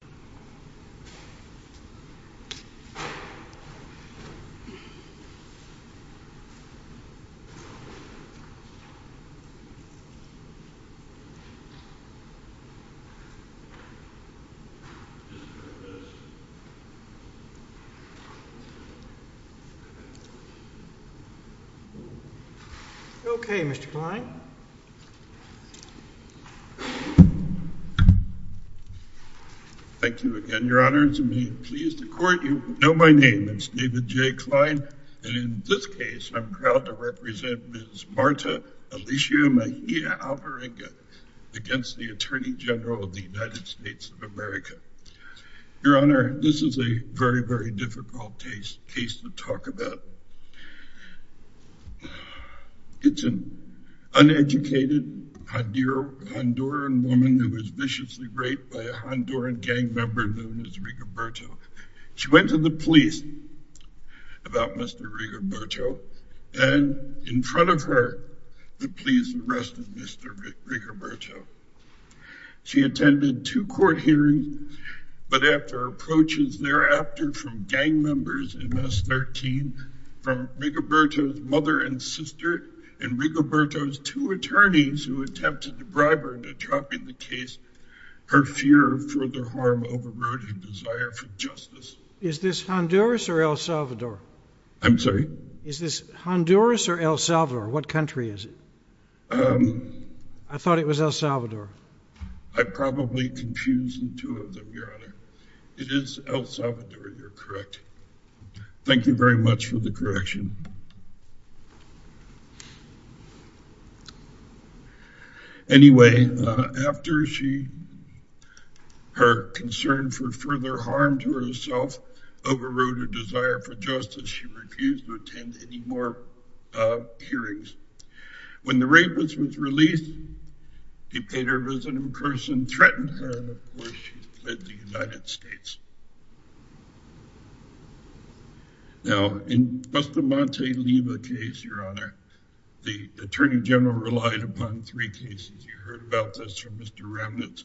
If you will stand and remain standing for 1 minute. Music. If you will stand and remain standing for 30 seconds. Okay, Mr. Klein. Thank you again, Your Honor, and may it please the Court, you know my name, it's David J. Klein, and in this case, I'm proud to represent Ms. Marta Alicia Mejia Alvarenga against the Attorney General of the United States of America. Your Honor, this is a very, very difficult case to talk about. It's an uneducated Honduran woman who was viciously raped by a Honduran gang member known as Rigoberto. She went to the police about Mr. Rigoberto, and in front of her, the police arrested Mr. Rigoberto. She attended two court hearings, but after approaches thereafter from gang members in S13, from Rigoberto's mother and sister, and Rigoberto's two attorneys who attempted to bribe her into dropping the case, her fear of further harm overrode her desire for justice. Is this Honduras or El Salvador? I'm sorry? Is this Honduras or El Salvador? What country is it? I thought it was El Salvador. I probably confused the two of them, Your Honor. It is El Salvador, you're correct. Thank you very much for the correction. Anyway, after her concern for further harm to herself overrode her desire for justice, she refused to attend any more hearings. When the rapist was released, he paid her a visit in person, threatened her before she fled the United States. Now, in Bustamante Liva case, Your Honor, the Attorney General relied upon three cases. You heard about this from Mr. Remnitz.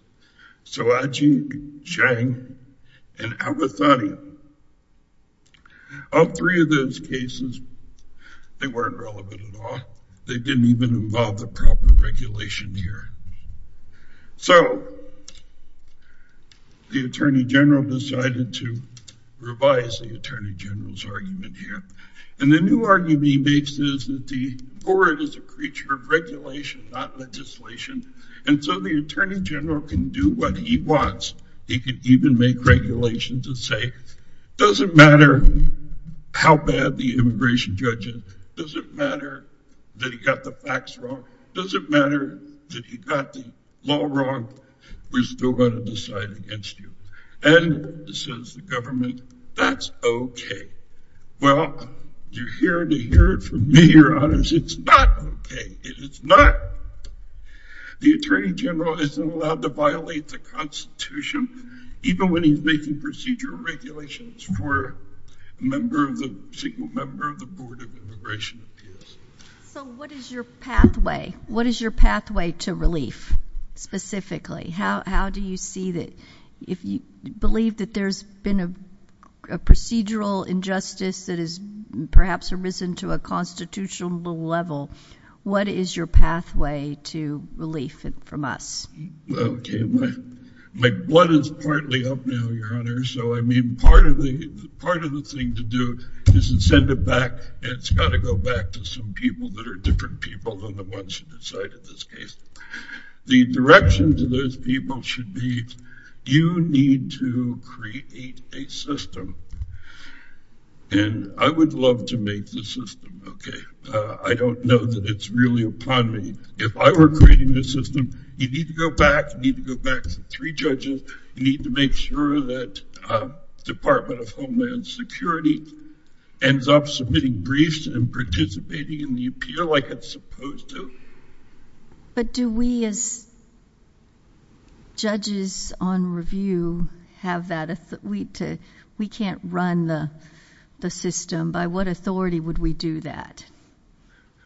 Soaji, Chang, and Abathani. All three of those cases, they weren't relevant at all. They didn't even involve the proper regulation here. So, the Attorney General decided to revise the Attorney General's argument here. And the new argument he makes is that the board is a creature of regulation, not legislation. And so the Attorney General can do what he wants. He can even make regulations that say, doesn't matter how bad the immigration judge is, doesn't matter that he got the facts wrong, doesn't matter that he got the law wrong, we're still going to decide against you. And, says the government, that's okay. Well, you're here to hear it from me, Your Honor. It's not okay. It is not. The Attorney General isn't allowed to violate the Constitution, even when he's making procedural regulations for a single member of the Board of Immigration Appeals. So, what is your pathway? What is your pathway to relief, specifically? How do you see that, if you believe that there's been a procedural injustice that has perhaps arisen to a constitutional level, what is your pathway to relief from us? Okay, my blood is partly up now, Your Honor. So, I mean, part of the thing to do is to send it back, and it's got to go back to some people that are different people than the ones who decided this case. The direction to those people should be, you need to create a system. And I would love to make the system, okay. I don't know that it's really upon me. If I were creating the system, you need to go back, you need to go back to three judges, you need to make sure that the Department of Homeland Security ends up submitting briefs and participating in the appeal like it's supposed to. But do we, as judges on review, have that? We can't run the system. By what authority would we do that?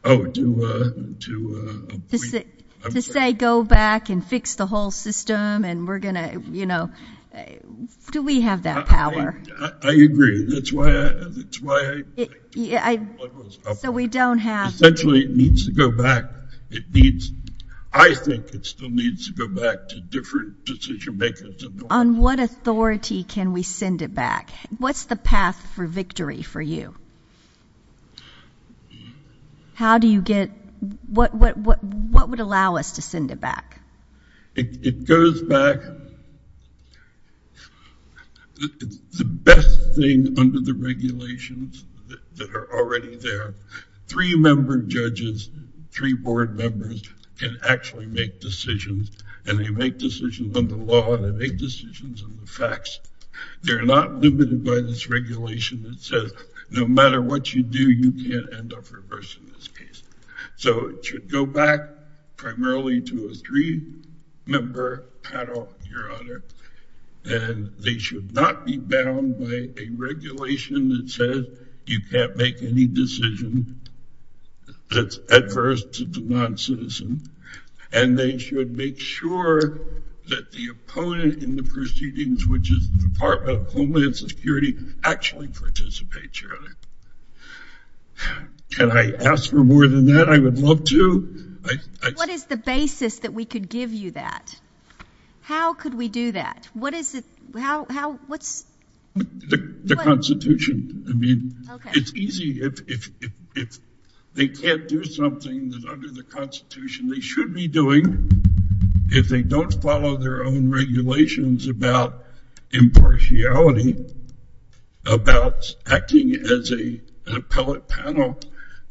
Oh, to... To say, go back and fix the whole system, and we're going to, you know... Do we have that power? I agree. That's why I... So, we don't have... Essentially, it needs to go back. It needs... I think it still needs to go back to different decision makers. On what authority can we send it back? What's the path for victory for you? How do you get... What would allow us to send it back? It goes back... It's the best thing under the regulations that are already there. Three member judges, three board members can actually make decisions, and they make decisions on the law, and they make decisions on the facts. They're not limited by this regulation that says, no matter what you do, you can't end up reversed in this case. So, it should go back primarily to a three-member panel, Your Honor, and they should not be bound by a regulation that says, you can't make any decision that's adverse to the non-citizen, and they should make sure that the opponent in the proceedings, which is the Department of Homeland Security, actually participates, Your Honor. Can I ask for more than that? I would love to. What is the basis that we could give you that? How could we do that? What is it? How? What's... The Constitution. I mean, it's easy if they can't do something that under the Constitution they should be doing. If they don't follow their own regulations about impartiality, about acting as an appellate panel,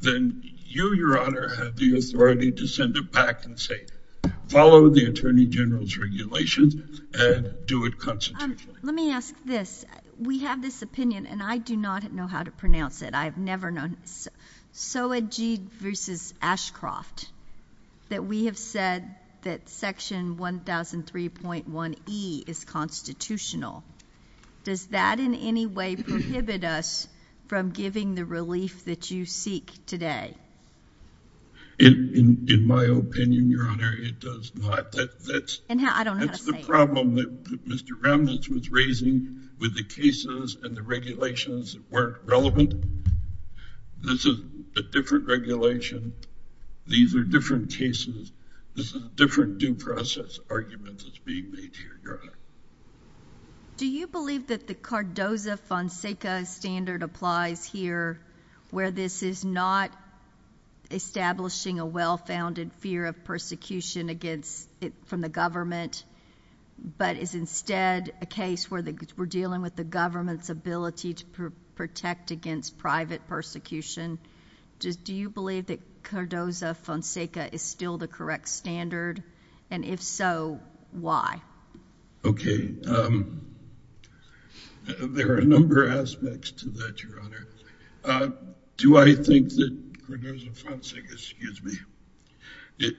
then you, Your Honor, have the authority to send it back and say, follow the Attorney General's regulations and do it constitutionally. Let me ask this. We have this opinion, and I do not know how to pronounce it. I've never known it. Soajid v. Ashcroft, that we have said that Section 1003.1E is constitutional, does that in any way prohibit us from giving the relief that you seek today? In my opinion, Your Honor, it does not. I don't know how to say it. This is a problem that Mr. Remnitz was raising with the cases and the regulations that weren't relevant. This is a different regulation. These are different cases. This is a different due process argument that's being made here, Your Honor. Do you believe that the Cardoza-Fonseca standard applies here, where this is not establishing a well-founded fear of persecution from the government, but is instead a case where we're dealing with the government's ability to protect against private persecution? Do you believe that Cardoza-Fonseca is still the correct standard? And if so, why? Okay. There are a number of aspects to that, Your Honor. Do I think that Cardoza-Fonseca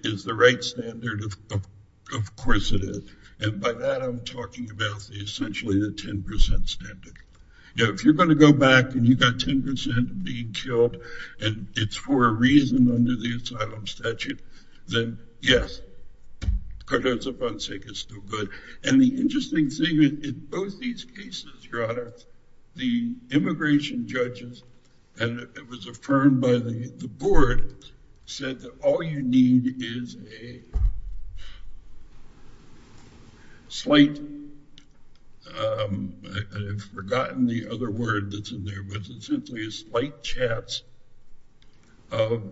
is the right standard? Of course it is. And by that I'm talking about essentially the 10% standard. If you're going to go back and you've got 10% being killed and it's for a reason under the asylum statute, then yes, Cardoza-Fonseca is still good. And the interesting thing in both these cases, Your Honor, the immigration judges, and it was affirmed by the board, said that all you need is a slight, I've forgotten the other word that's in there, but essentially a slight chance of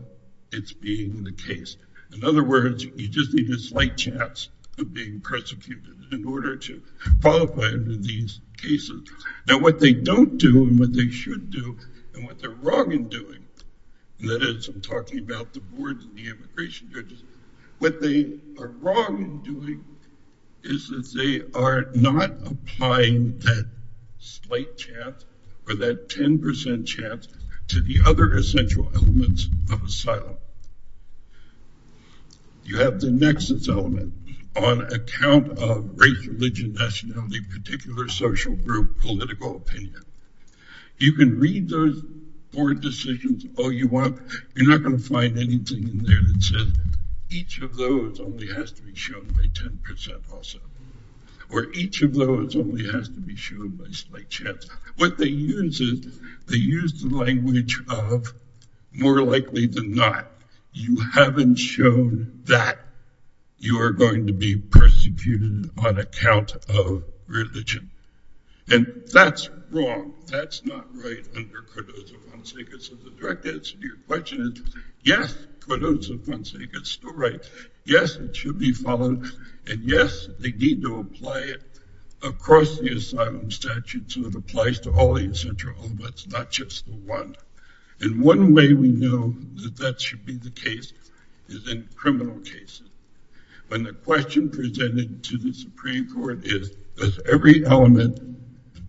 it being the case. In other words, you just need a slight chance of being persecuted in order to qualify under these cases. Now, what they don't do and what they should do and what they're wrong in doing, and that is I'm talking about the board and the immigration judges, what they are wrong in doing is that they are not applying that slight chance or that 10% chance to the other essential elements of asylum. You have the nexus element on account of race, religion, nationality, particular social group, political opinion. You can read those board decisions all you want. You're not going to find anything in there that says each of those only has to be shown by 10% also or each of those only has to be shown by slight chance. What they use is they use the language of more likely than not, you haven't shown that you are going to be persecuted on account of religion. And that's wrong. That's not right under Cardozo-Fonseca. So the direct answer to your question is yes, Cardozo-Fonseca is still right. Yes, it should be followed and yes, they need to apply it across the asylum statute so it applies to all the essential elements, not just the one. And one way we know that that should be the case is in criminal cases. When the question presented to the Supreme Court is, does every element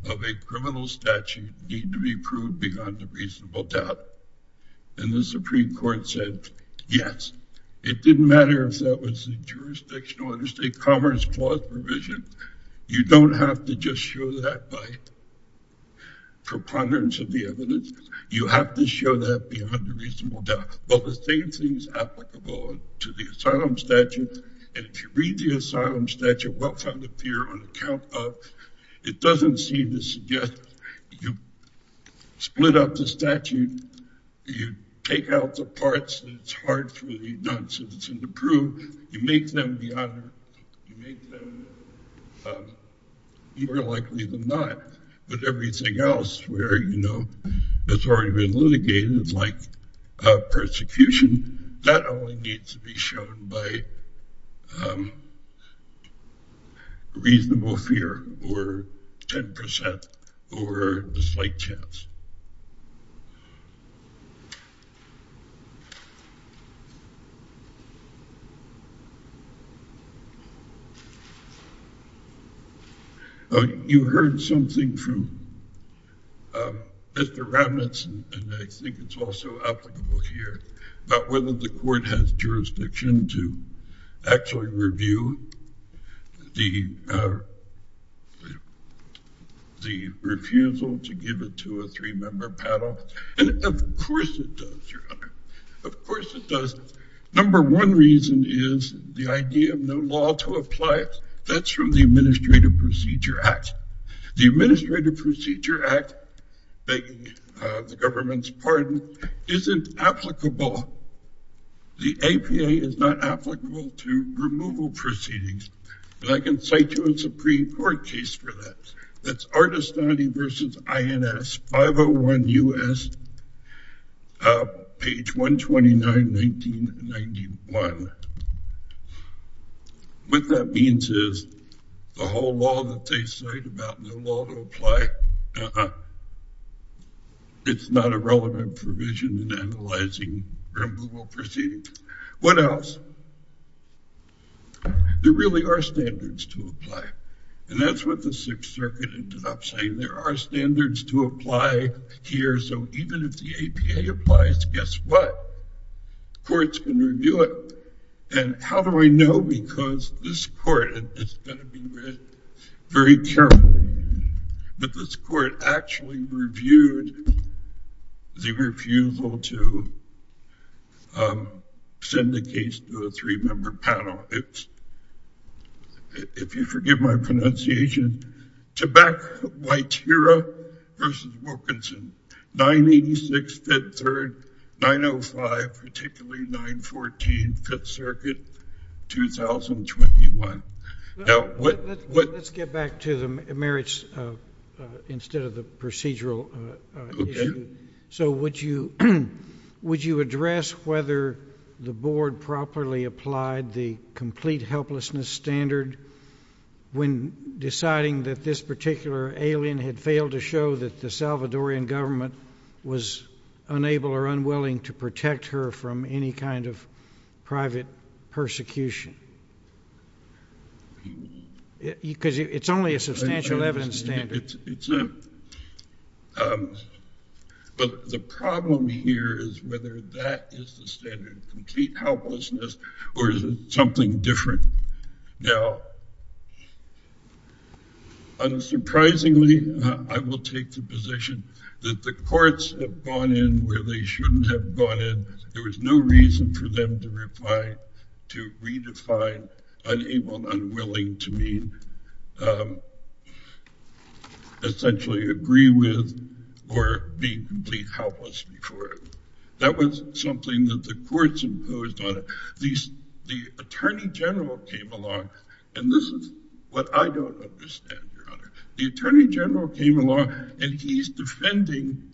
of a criminal statute need to be proved beyond a reasonable doubt? And the Supreme Court said, yes. It didn't matter if that was the jurisdictional interstate commerce clause provision. You don't have to just show that by preponderance of the evidence. You have to show that beyond a reasonable doubt. Well, the same thing is applicable to the asylum statute. And if you read the asylum statute, well-founded fear on account of, it doesn't seem to suggest you split up the statute, you take out the parts that it's hard for the non-citizen to prove, you make them more likely than not. But everything else where it's already been litigated like persecution, that only needs to be shown by reasonable fear or 10% or a slight chance. You heard something from Mr. Robinson, and I think it's also applicable here, about whether the court has jurisdiction to actually review the refusal to give the two or three-member panel. And of course it does, Your Honor. Of course it does. Number one reason is the idea of no law to apply. That's from the Administrative Procedure Act. The Administrative Procedure Act, begging the government's pardon, isn't applicable. The APA is not applicable to removal proceedings. And I can cite you a Supreme Court case for that. That's Ardestani v. INS, 501 U.S., page 129, 1991. What that means is the whole law that they cite about no law to apply, it's not a relevant provision in analyzing removal proceedings. What else? There really are standards to apply. And that's what the Sixth Circuit ended up saying. There are standards to apply here. So even if the APA applies, guess what? Courts can review it. And how do I know? Because this court is going to be very careful. But this court actually reviewed the refusal to send a case to a three-member panel. If you forgive my pronunciation. To back Waitera v. Wilkinson, 986 Fifth Third, 905, particularly 914 Fifth Circuit, 2021. Let's get back to the merits instead of the procedural issue. So would you address whether the board properly applied the complete helplessness standard when deciding that this particular alien had failed to show that the Salvadorian government was unable or unwilling to protect her from any kind of private persecution? Because it's only a substantial evidence standard. But the problem here is whether that is the standard, complete helplessness, or is it something different? Now, unsurprisingly, I will take the position that the courts have gone in where they shouldn't have gone in. There was no reason for them to reply, to redefine unable, unwilling to mean essentially agree with, or be complete helpless before it. That was something that the courts imposed on it. The attorney general came along. And this is what I don't understand, Your Honor. The attorney general came along and he's defending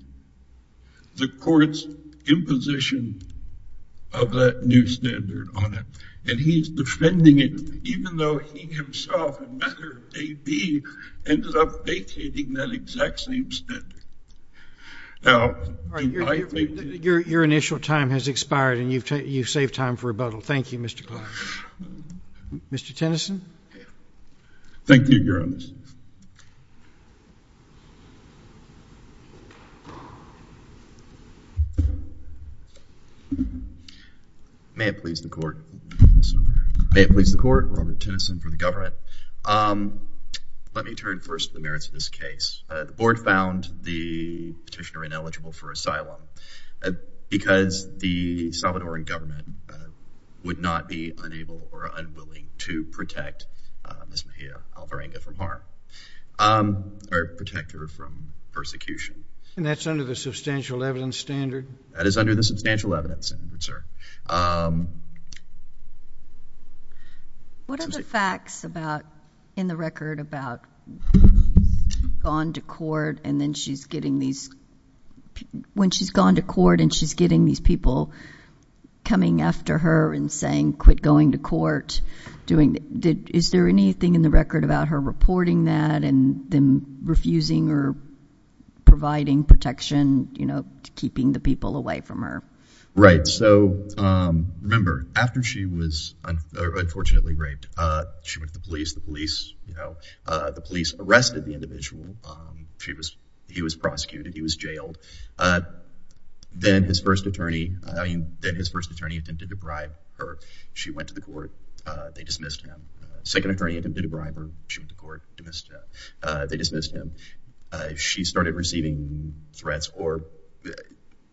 the court's imposition of that new standard on it. And he's defending it, even though he himself, a matter of day B, ended up vacating that exact same standard. Your initial time has expired and you've saved time for rebuttal. Thank you, Mr. Clark. Mr. Tennyson? Thank you, Your Honor. May it please the Court. May it please the Court. Robert Tennyson for the government. Let me turn first to the merits of this case. The Board found the petitioner ineligible for asylum because the Salvadoran government would not be unable or unwilling to protect Ms. Mejia Alvarenga from harm or protect her from persecution. And that's under the substantial evidence standard? That is under the substantial evidence standard, sir. What are the facts in the record about when she's gone to court and she's getting these people coming after her and saying, quit going to court? Is there anything in the record about her reporting that and then refusing or providing protection, keeping the people away from her? Right. So remember, after she was unfortunately raped, she went to the police. The police arrested the individual. He was prosecuted. He was jailed. Then his first attorney attempted to bribe her. She went to the court. They dismissed him. Second attorney attempted to bribe her. She went to court. They dismissed him. She started receiving threats or,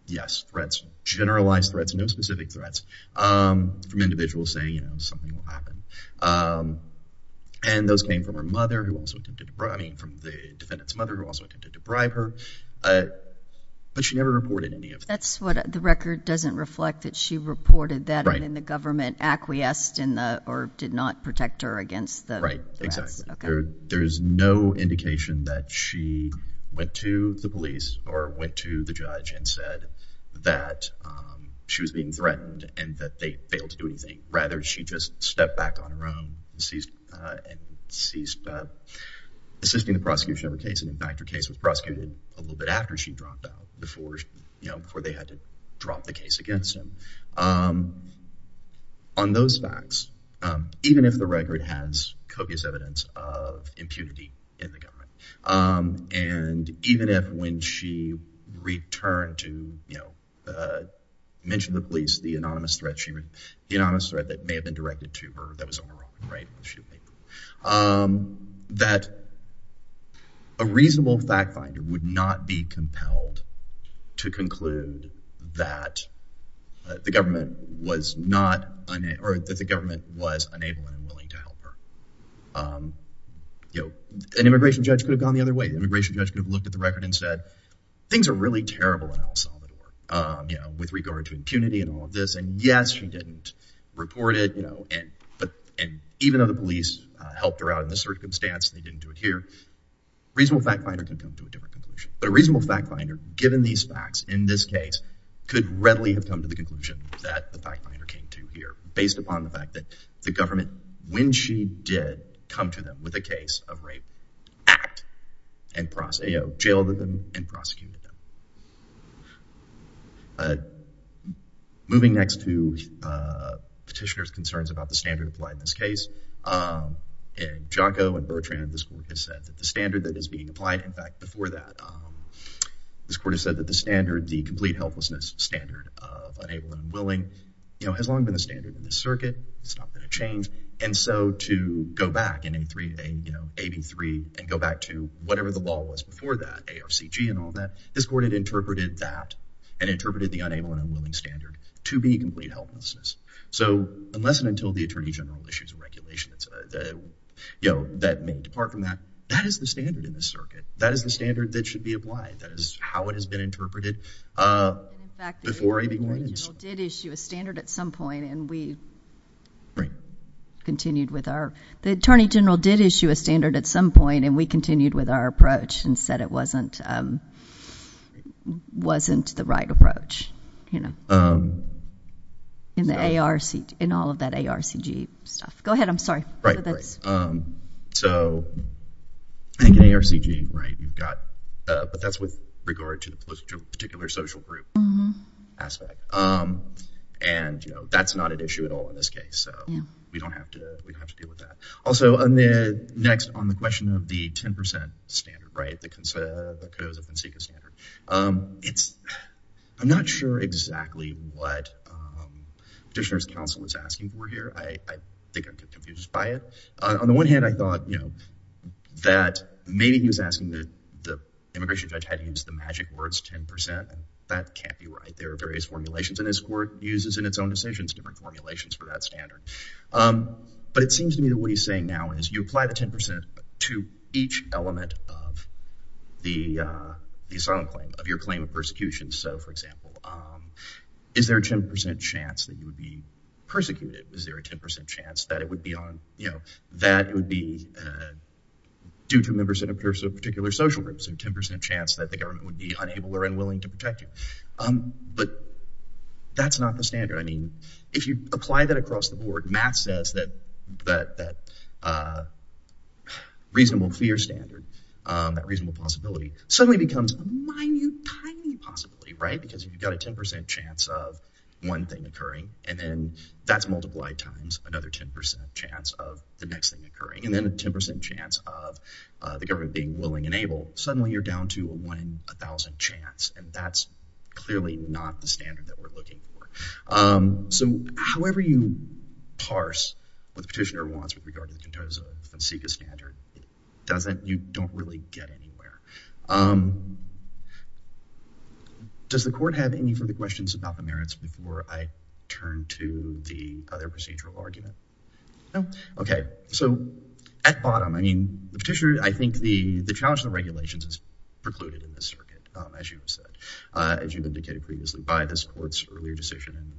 yes, threats. Generalized threats, no specific threats from individuals saying, you know, something will happen. And those came from her mother who also attempted to bribe her. I mean, from the defendant's mother who also attempted to bribe her. But she never reported any of that. That's what the record doesn't reflect, that she reported that and then the government acquiesced in the or did not protect her against the threats. Right, exactly. There is no indication that she went to the police or went to the judge and said that she was being threatened and that they failed to do anything. Rather, she just stepped back on her own and ceased assisting the prosecution of the case. And, in fact, her case was prosecuted a little bit after she dropped out, before they had to drop the case against him. On those facts, even if the record has copious evidence of impunity in the government and even if when she returned to, you know, mention the police, the anonymous threat that may have been directed to her, that was overruled, right? That a reasonable fact finder would not be compelled to conclude that the government was not, or that the government was unable and unwilling to help her. You know, an immigration judge could have gone the other way. An immigration judge could have looked at the record and said, things are really terrible in El Salvador, you know, with regard to impunity and all of this. And, yes, she didn't report it, you know, and even though the police helped her out in this circumstance, they didn't do it here, a reasonable fact finder can come to a different conclusion. But a reasonable fact finder, given these facts in this case, could readily have come to the conclusion that the fact finder came to here based upon the fact that the government, when she did, come to them with a case of rape, act and jailed them and prosecuted them. Moving next to petitioner's concerns about the standard applied in this case. In Jaco and Bertrand, this court has said that the standard that is being applied, in fact, before that, this court has said that the standard, the complete helplessness standard of unable and unwilling, you know, has long been a standard in this circuit. It's not going to change. And so to go back in AB3 and go back to whatever the law was before that, ARCG and all that, this court had interpreted that and interpreted the unable and unwilling standard to be complete helplessness. So unless and until the Attorney General issues a regulation that may depart from that, that is the standard in this circuit. That is the standard that should be applied. That is how it has been interpreted before AB1 ends. The Attorney General did issue a standard at some point, and we continued with our – the Attorney General did issue a standard at some point, and we continued with our approach and said it wasn't the right approach, you know, in the ARCG, in all of that ARCG stuff. Go ahead. I'm sorry. Right, right. So I think in ARCG, right, you've got – but that's with regard to the particular social group aspect. And, you know, that's not an issue at all in this case, so we don't have to deal with that. Also, next, on the question of the 10% standard, right, the Codoza-Fonseca standard, I'm not sure exactly what Petitioner's counsel was asking for here. I think I'm confused by it. On the one hand, I thought, you know, that maybe he was asking that the immigration judge had to use the magic words 10%, and that can't be right. There are various formulations, and this court uses in its own decisions different formulations for that standard. But it seems to me that what he's saying now is you apply the 10% to each element of the asylum claim, of your claim of persecution. So, for example, is there a 10% chance that you would be persecuted? Is there a 10% chance that it would be on, you know, that it would be due to members of a particular social group? Is there a 10% chance that the government would be unable or unwilling to protect you? But that's not the standard. I mean, if you apply that across the board, Matt says that that reasonable fear standard, that reasonable possibility, suddenly becomes a minute, tiny possibility, right, because you've got a 10% chance of one thing occurring, and then that's multiplied times another 10% chance of the next thing occurring, and then a 10% chance of the government being willing and able. Suddenly you're down to a 1 in 1,000 chance, and that's clearly not the standard that we're looking for. So however you parse what the petitioner wants with regard to the Contoso-Fonseca standard, you don't really get anywhere. Does the court have any further questions about the merits before I turn to the other procedural argument? No? Okay. So at bottom, I mean, the petitioner, I think the challenge to the regulations is precluded in this circuit, as you've said, as you've indicated previously by this court's earlier decision in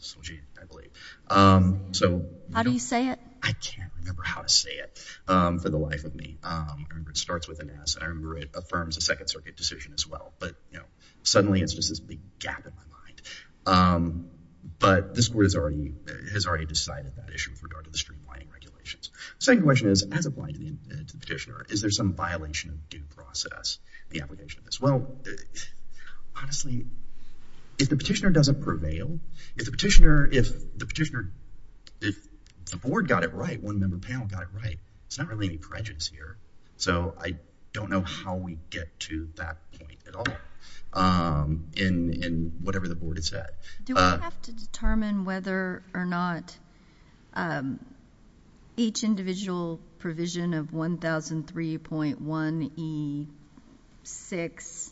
Solji, I believe. How do you say it? I can't remember how to say it for the life of me. I remember it starts with an S, and I remember it affirms a Second Circuit decision as well, but suddenly it's just this big gap in my mind. But this court has already decided that issue with regard to the streamlining regulations. The second question is, as applied to the petitioner, is there some violation of due process in the application of this? Well, honestly, if the petitioner doesn't prevail, if the petitioner, if the board got it right, one member panel got it right, there's not really any prejudice here. So I don't know how we get to that point at all in whatever the board has said. Do we have to determine whether or not each individual provision of 1003.1E6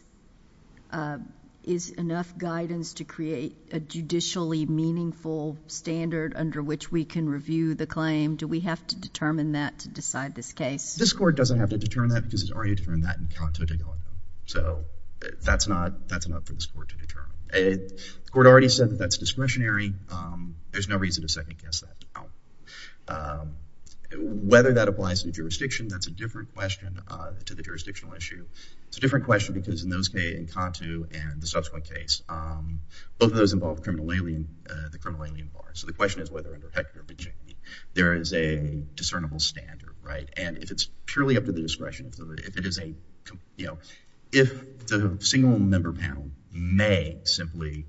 is enough guidance to create a judicially meaningful standard under which we can review the claim? Do we have to determine that to decide this case? This court doesn't have to determine that because it's already determined that in Canto de Galicia. So that's not for this court to determine. The court already said that that's discretionary. There's no reason to second-guess that at all. Whether that applies to jurisdiction, that's a different question to the jurisdictional issue. It's a different question because in those cases, in Canto and the subsequent case, both of those involved criminal alien, the criminal alien bar. So the question is whether under Hector Benchigny there is a discernible standard, right? And if it's purely up to the discretion, if it is a, you know, if the single member panel may simply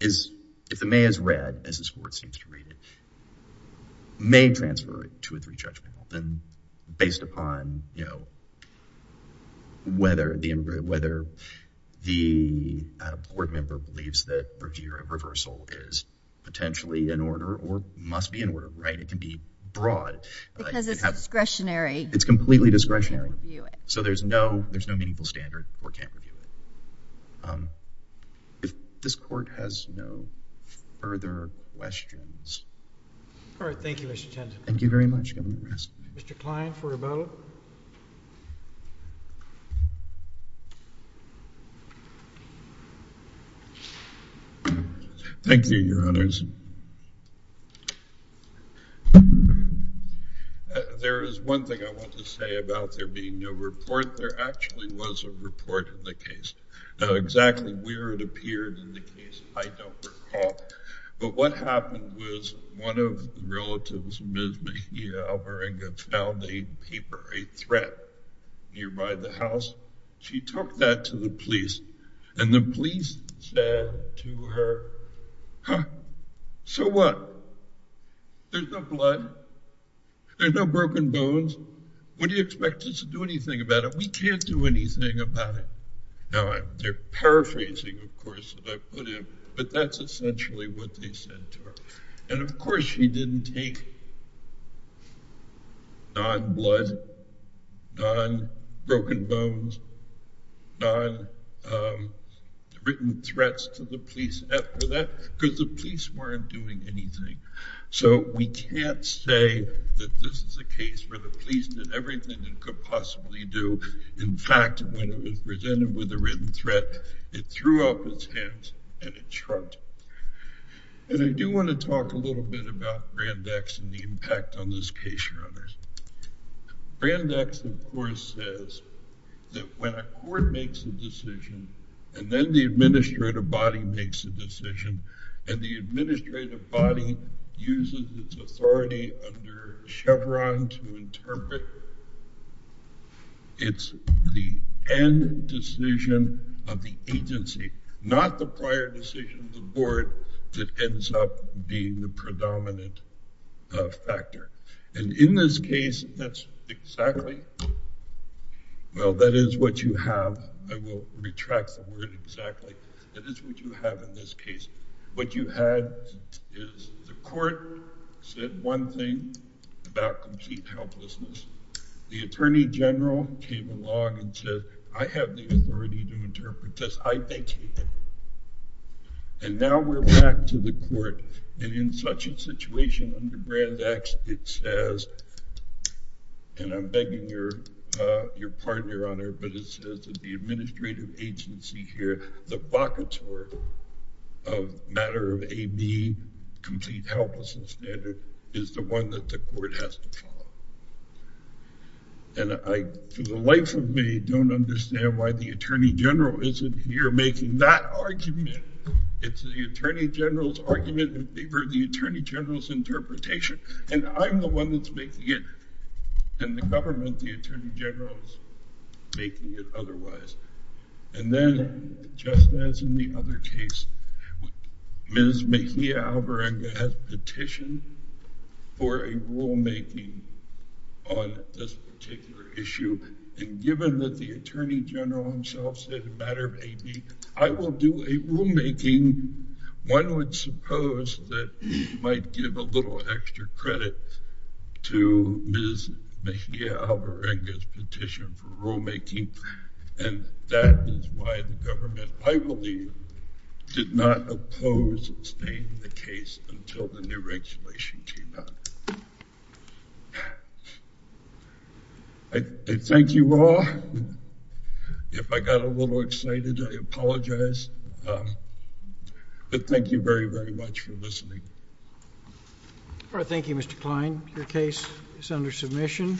is, if the may has read as this court seems to read it, may transfer it to a three-judge panel, then based upon, you know, whether the board member believes that reversal is potentially in order or must be in order, right? It can be broad. Because it's discretionary. It's completely discretionary. So there's no meaningful standard. The court can't review it. If this court has no further questions. All right. Thank you, Mr. Tenton. Thank you very much. Mr. Kline for rebuttal. Thank you, Your Honors. There is one thing I want to say about there being no report. There actually was a report in the case. Now exactly where it appeared in the case I don't recall. But what happened was one of the relatives, Ms. Mejia Alvarenga, found a paper, a threat nearby the house. She took that to the police. And the police said to her, huh, so what? There's no blood. There's no broken bones. What do you expect us to do anything about it? We can't do anything about it. They're paraphrasing, of course, what I put in. But that's essentially what they said to her. And, of course, she didn't take non-blood, non-broken bones, non-written threats to the police after that because the police weren't doing anything. So we can't say that this is a case where the police did everything it could possibly do. In fact, when it was presented with a written threat, it threw up its hands and it shrugged. And I do want to talk a little bit about Brand X and the impact on this case. Brand X, of course, says that when a court makes a decision and then the administrative body makes a decision and the administrative body uses its authority under Chevron to interpret, it's the end decision of the agency, not the prior decision of the board that ends up being the predominant factor. And in this case, that's exactly—well, that is what you have. I will retract the word exactly. That is what you have in this case. What you had is the court said one thing about complete helplessness. The attorney general came along and said, I have the authority to interpret this. I think he did. And now we're back to the court. And in such a situation under Brand X, it says—and I'm begging your pardon, Your Honor, but it says that the administrative agency here, the vacuum of matter of AB, complete helplessness standard, is the one that the court has to follow. And I, for the life of me, don't understand why the attorney general isn't here making that argument. It's the attorney general's argument in favor of the attorney general's interpretation. And I'm the one that's making it. And the government, the attorney general, is making it otherwise. And then, just as in the other case, Ms. Mejia-Alvarenga has petitioned for a rulemaking on this particular issue. And given that the attorney general himself said a matter of AB, I will do a rulemaking. One would suppose that might give a little extra credit to Ms. Mejia-Alvarenga's petition for rulemaking. And that is why the government, I believe, did not oppose staying in the case until the new regulation came out. I thank you all. If I got a little excited, I apologize. But thank you very, very much for listening. All right. Thank you, Mr. Kline. Your case is under submission.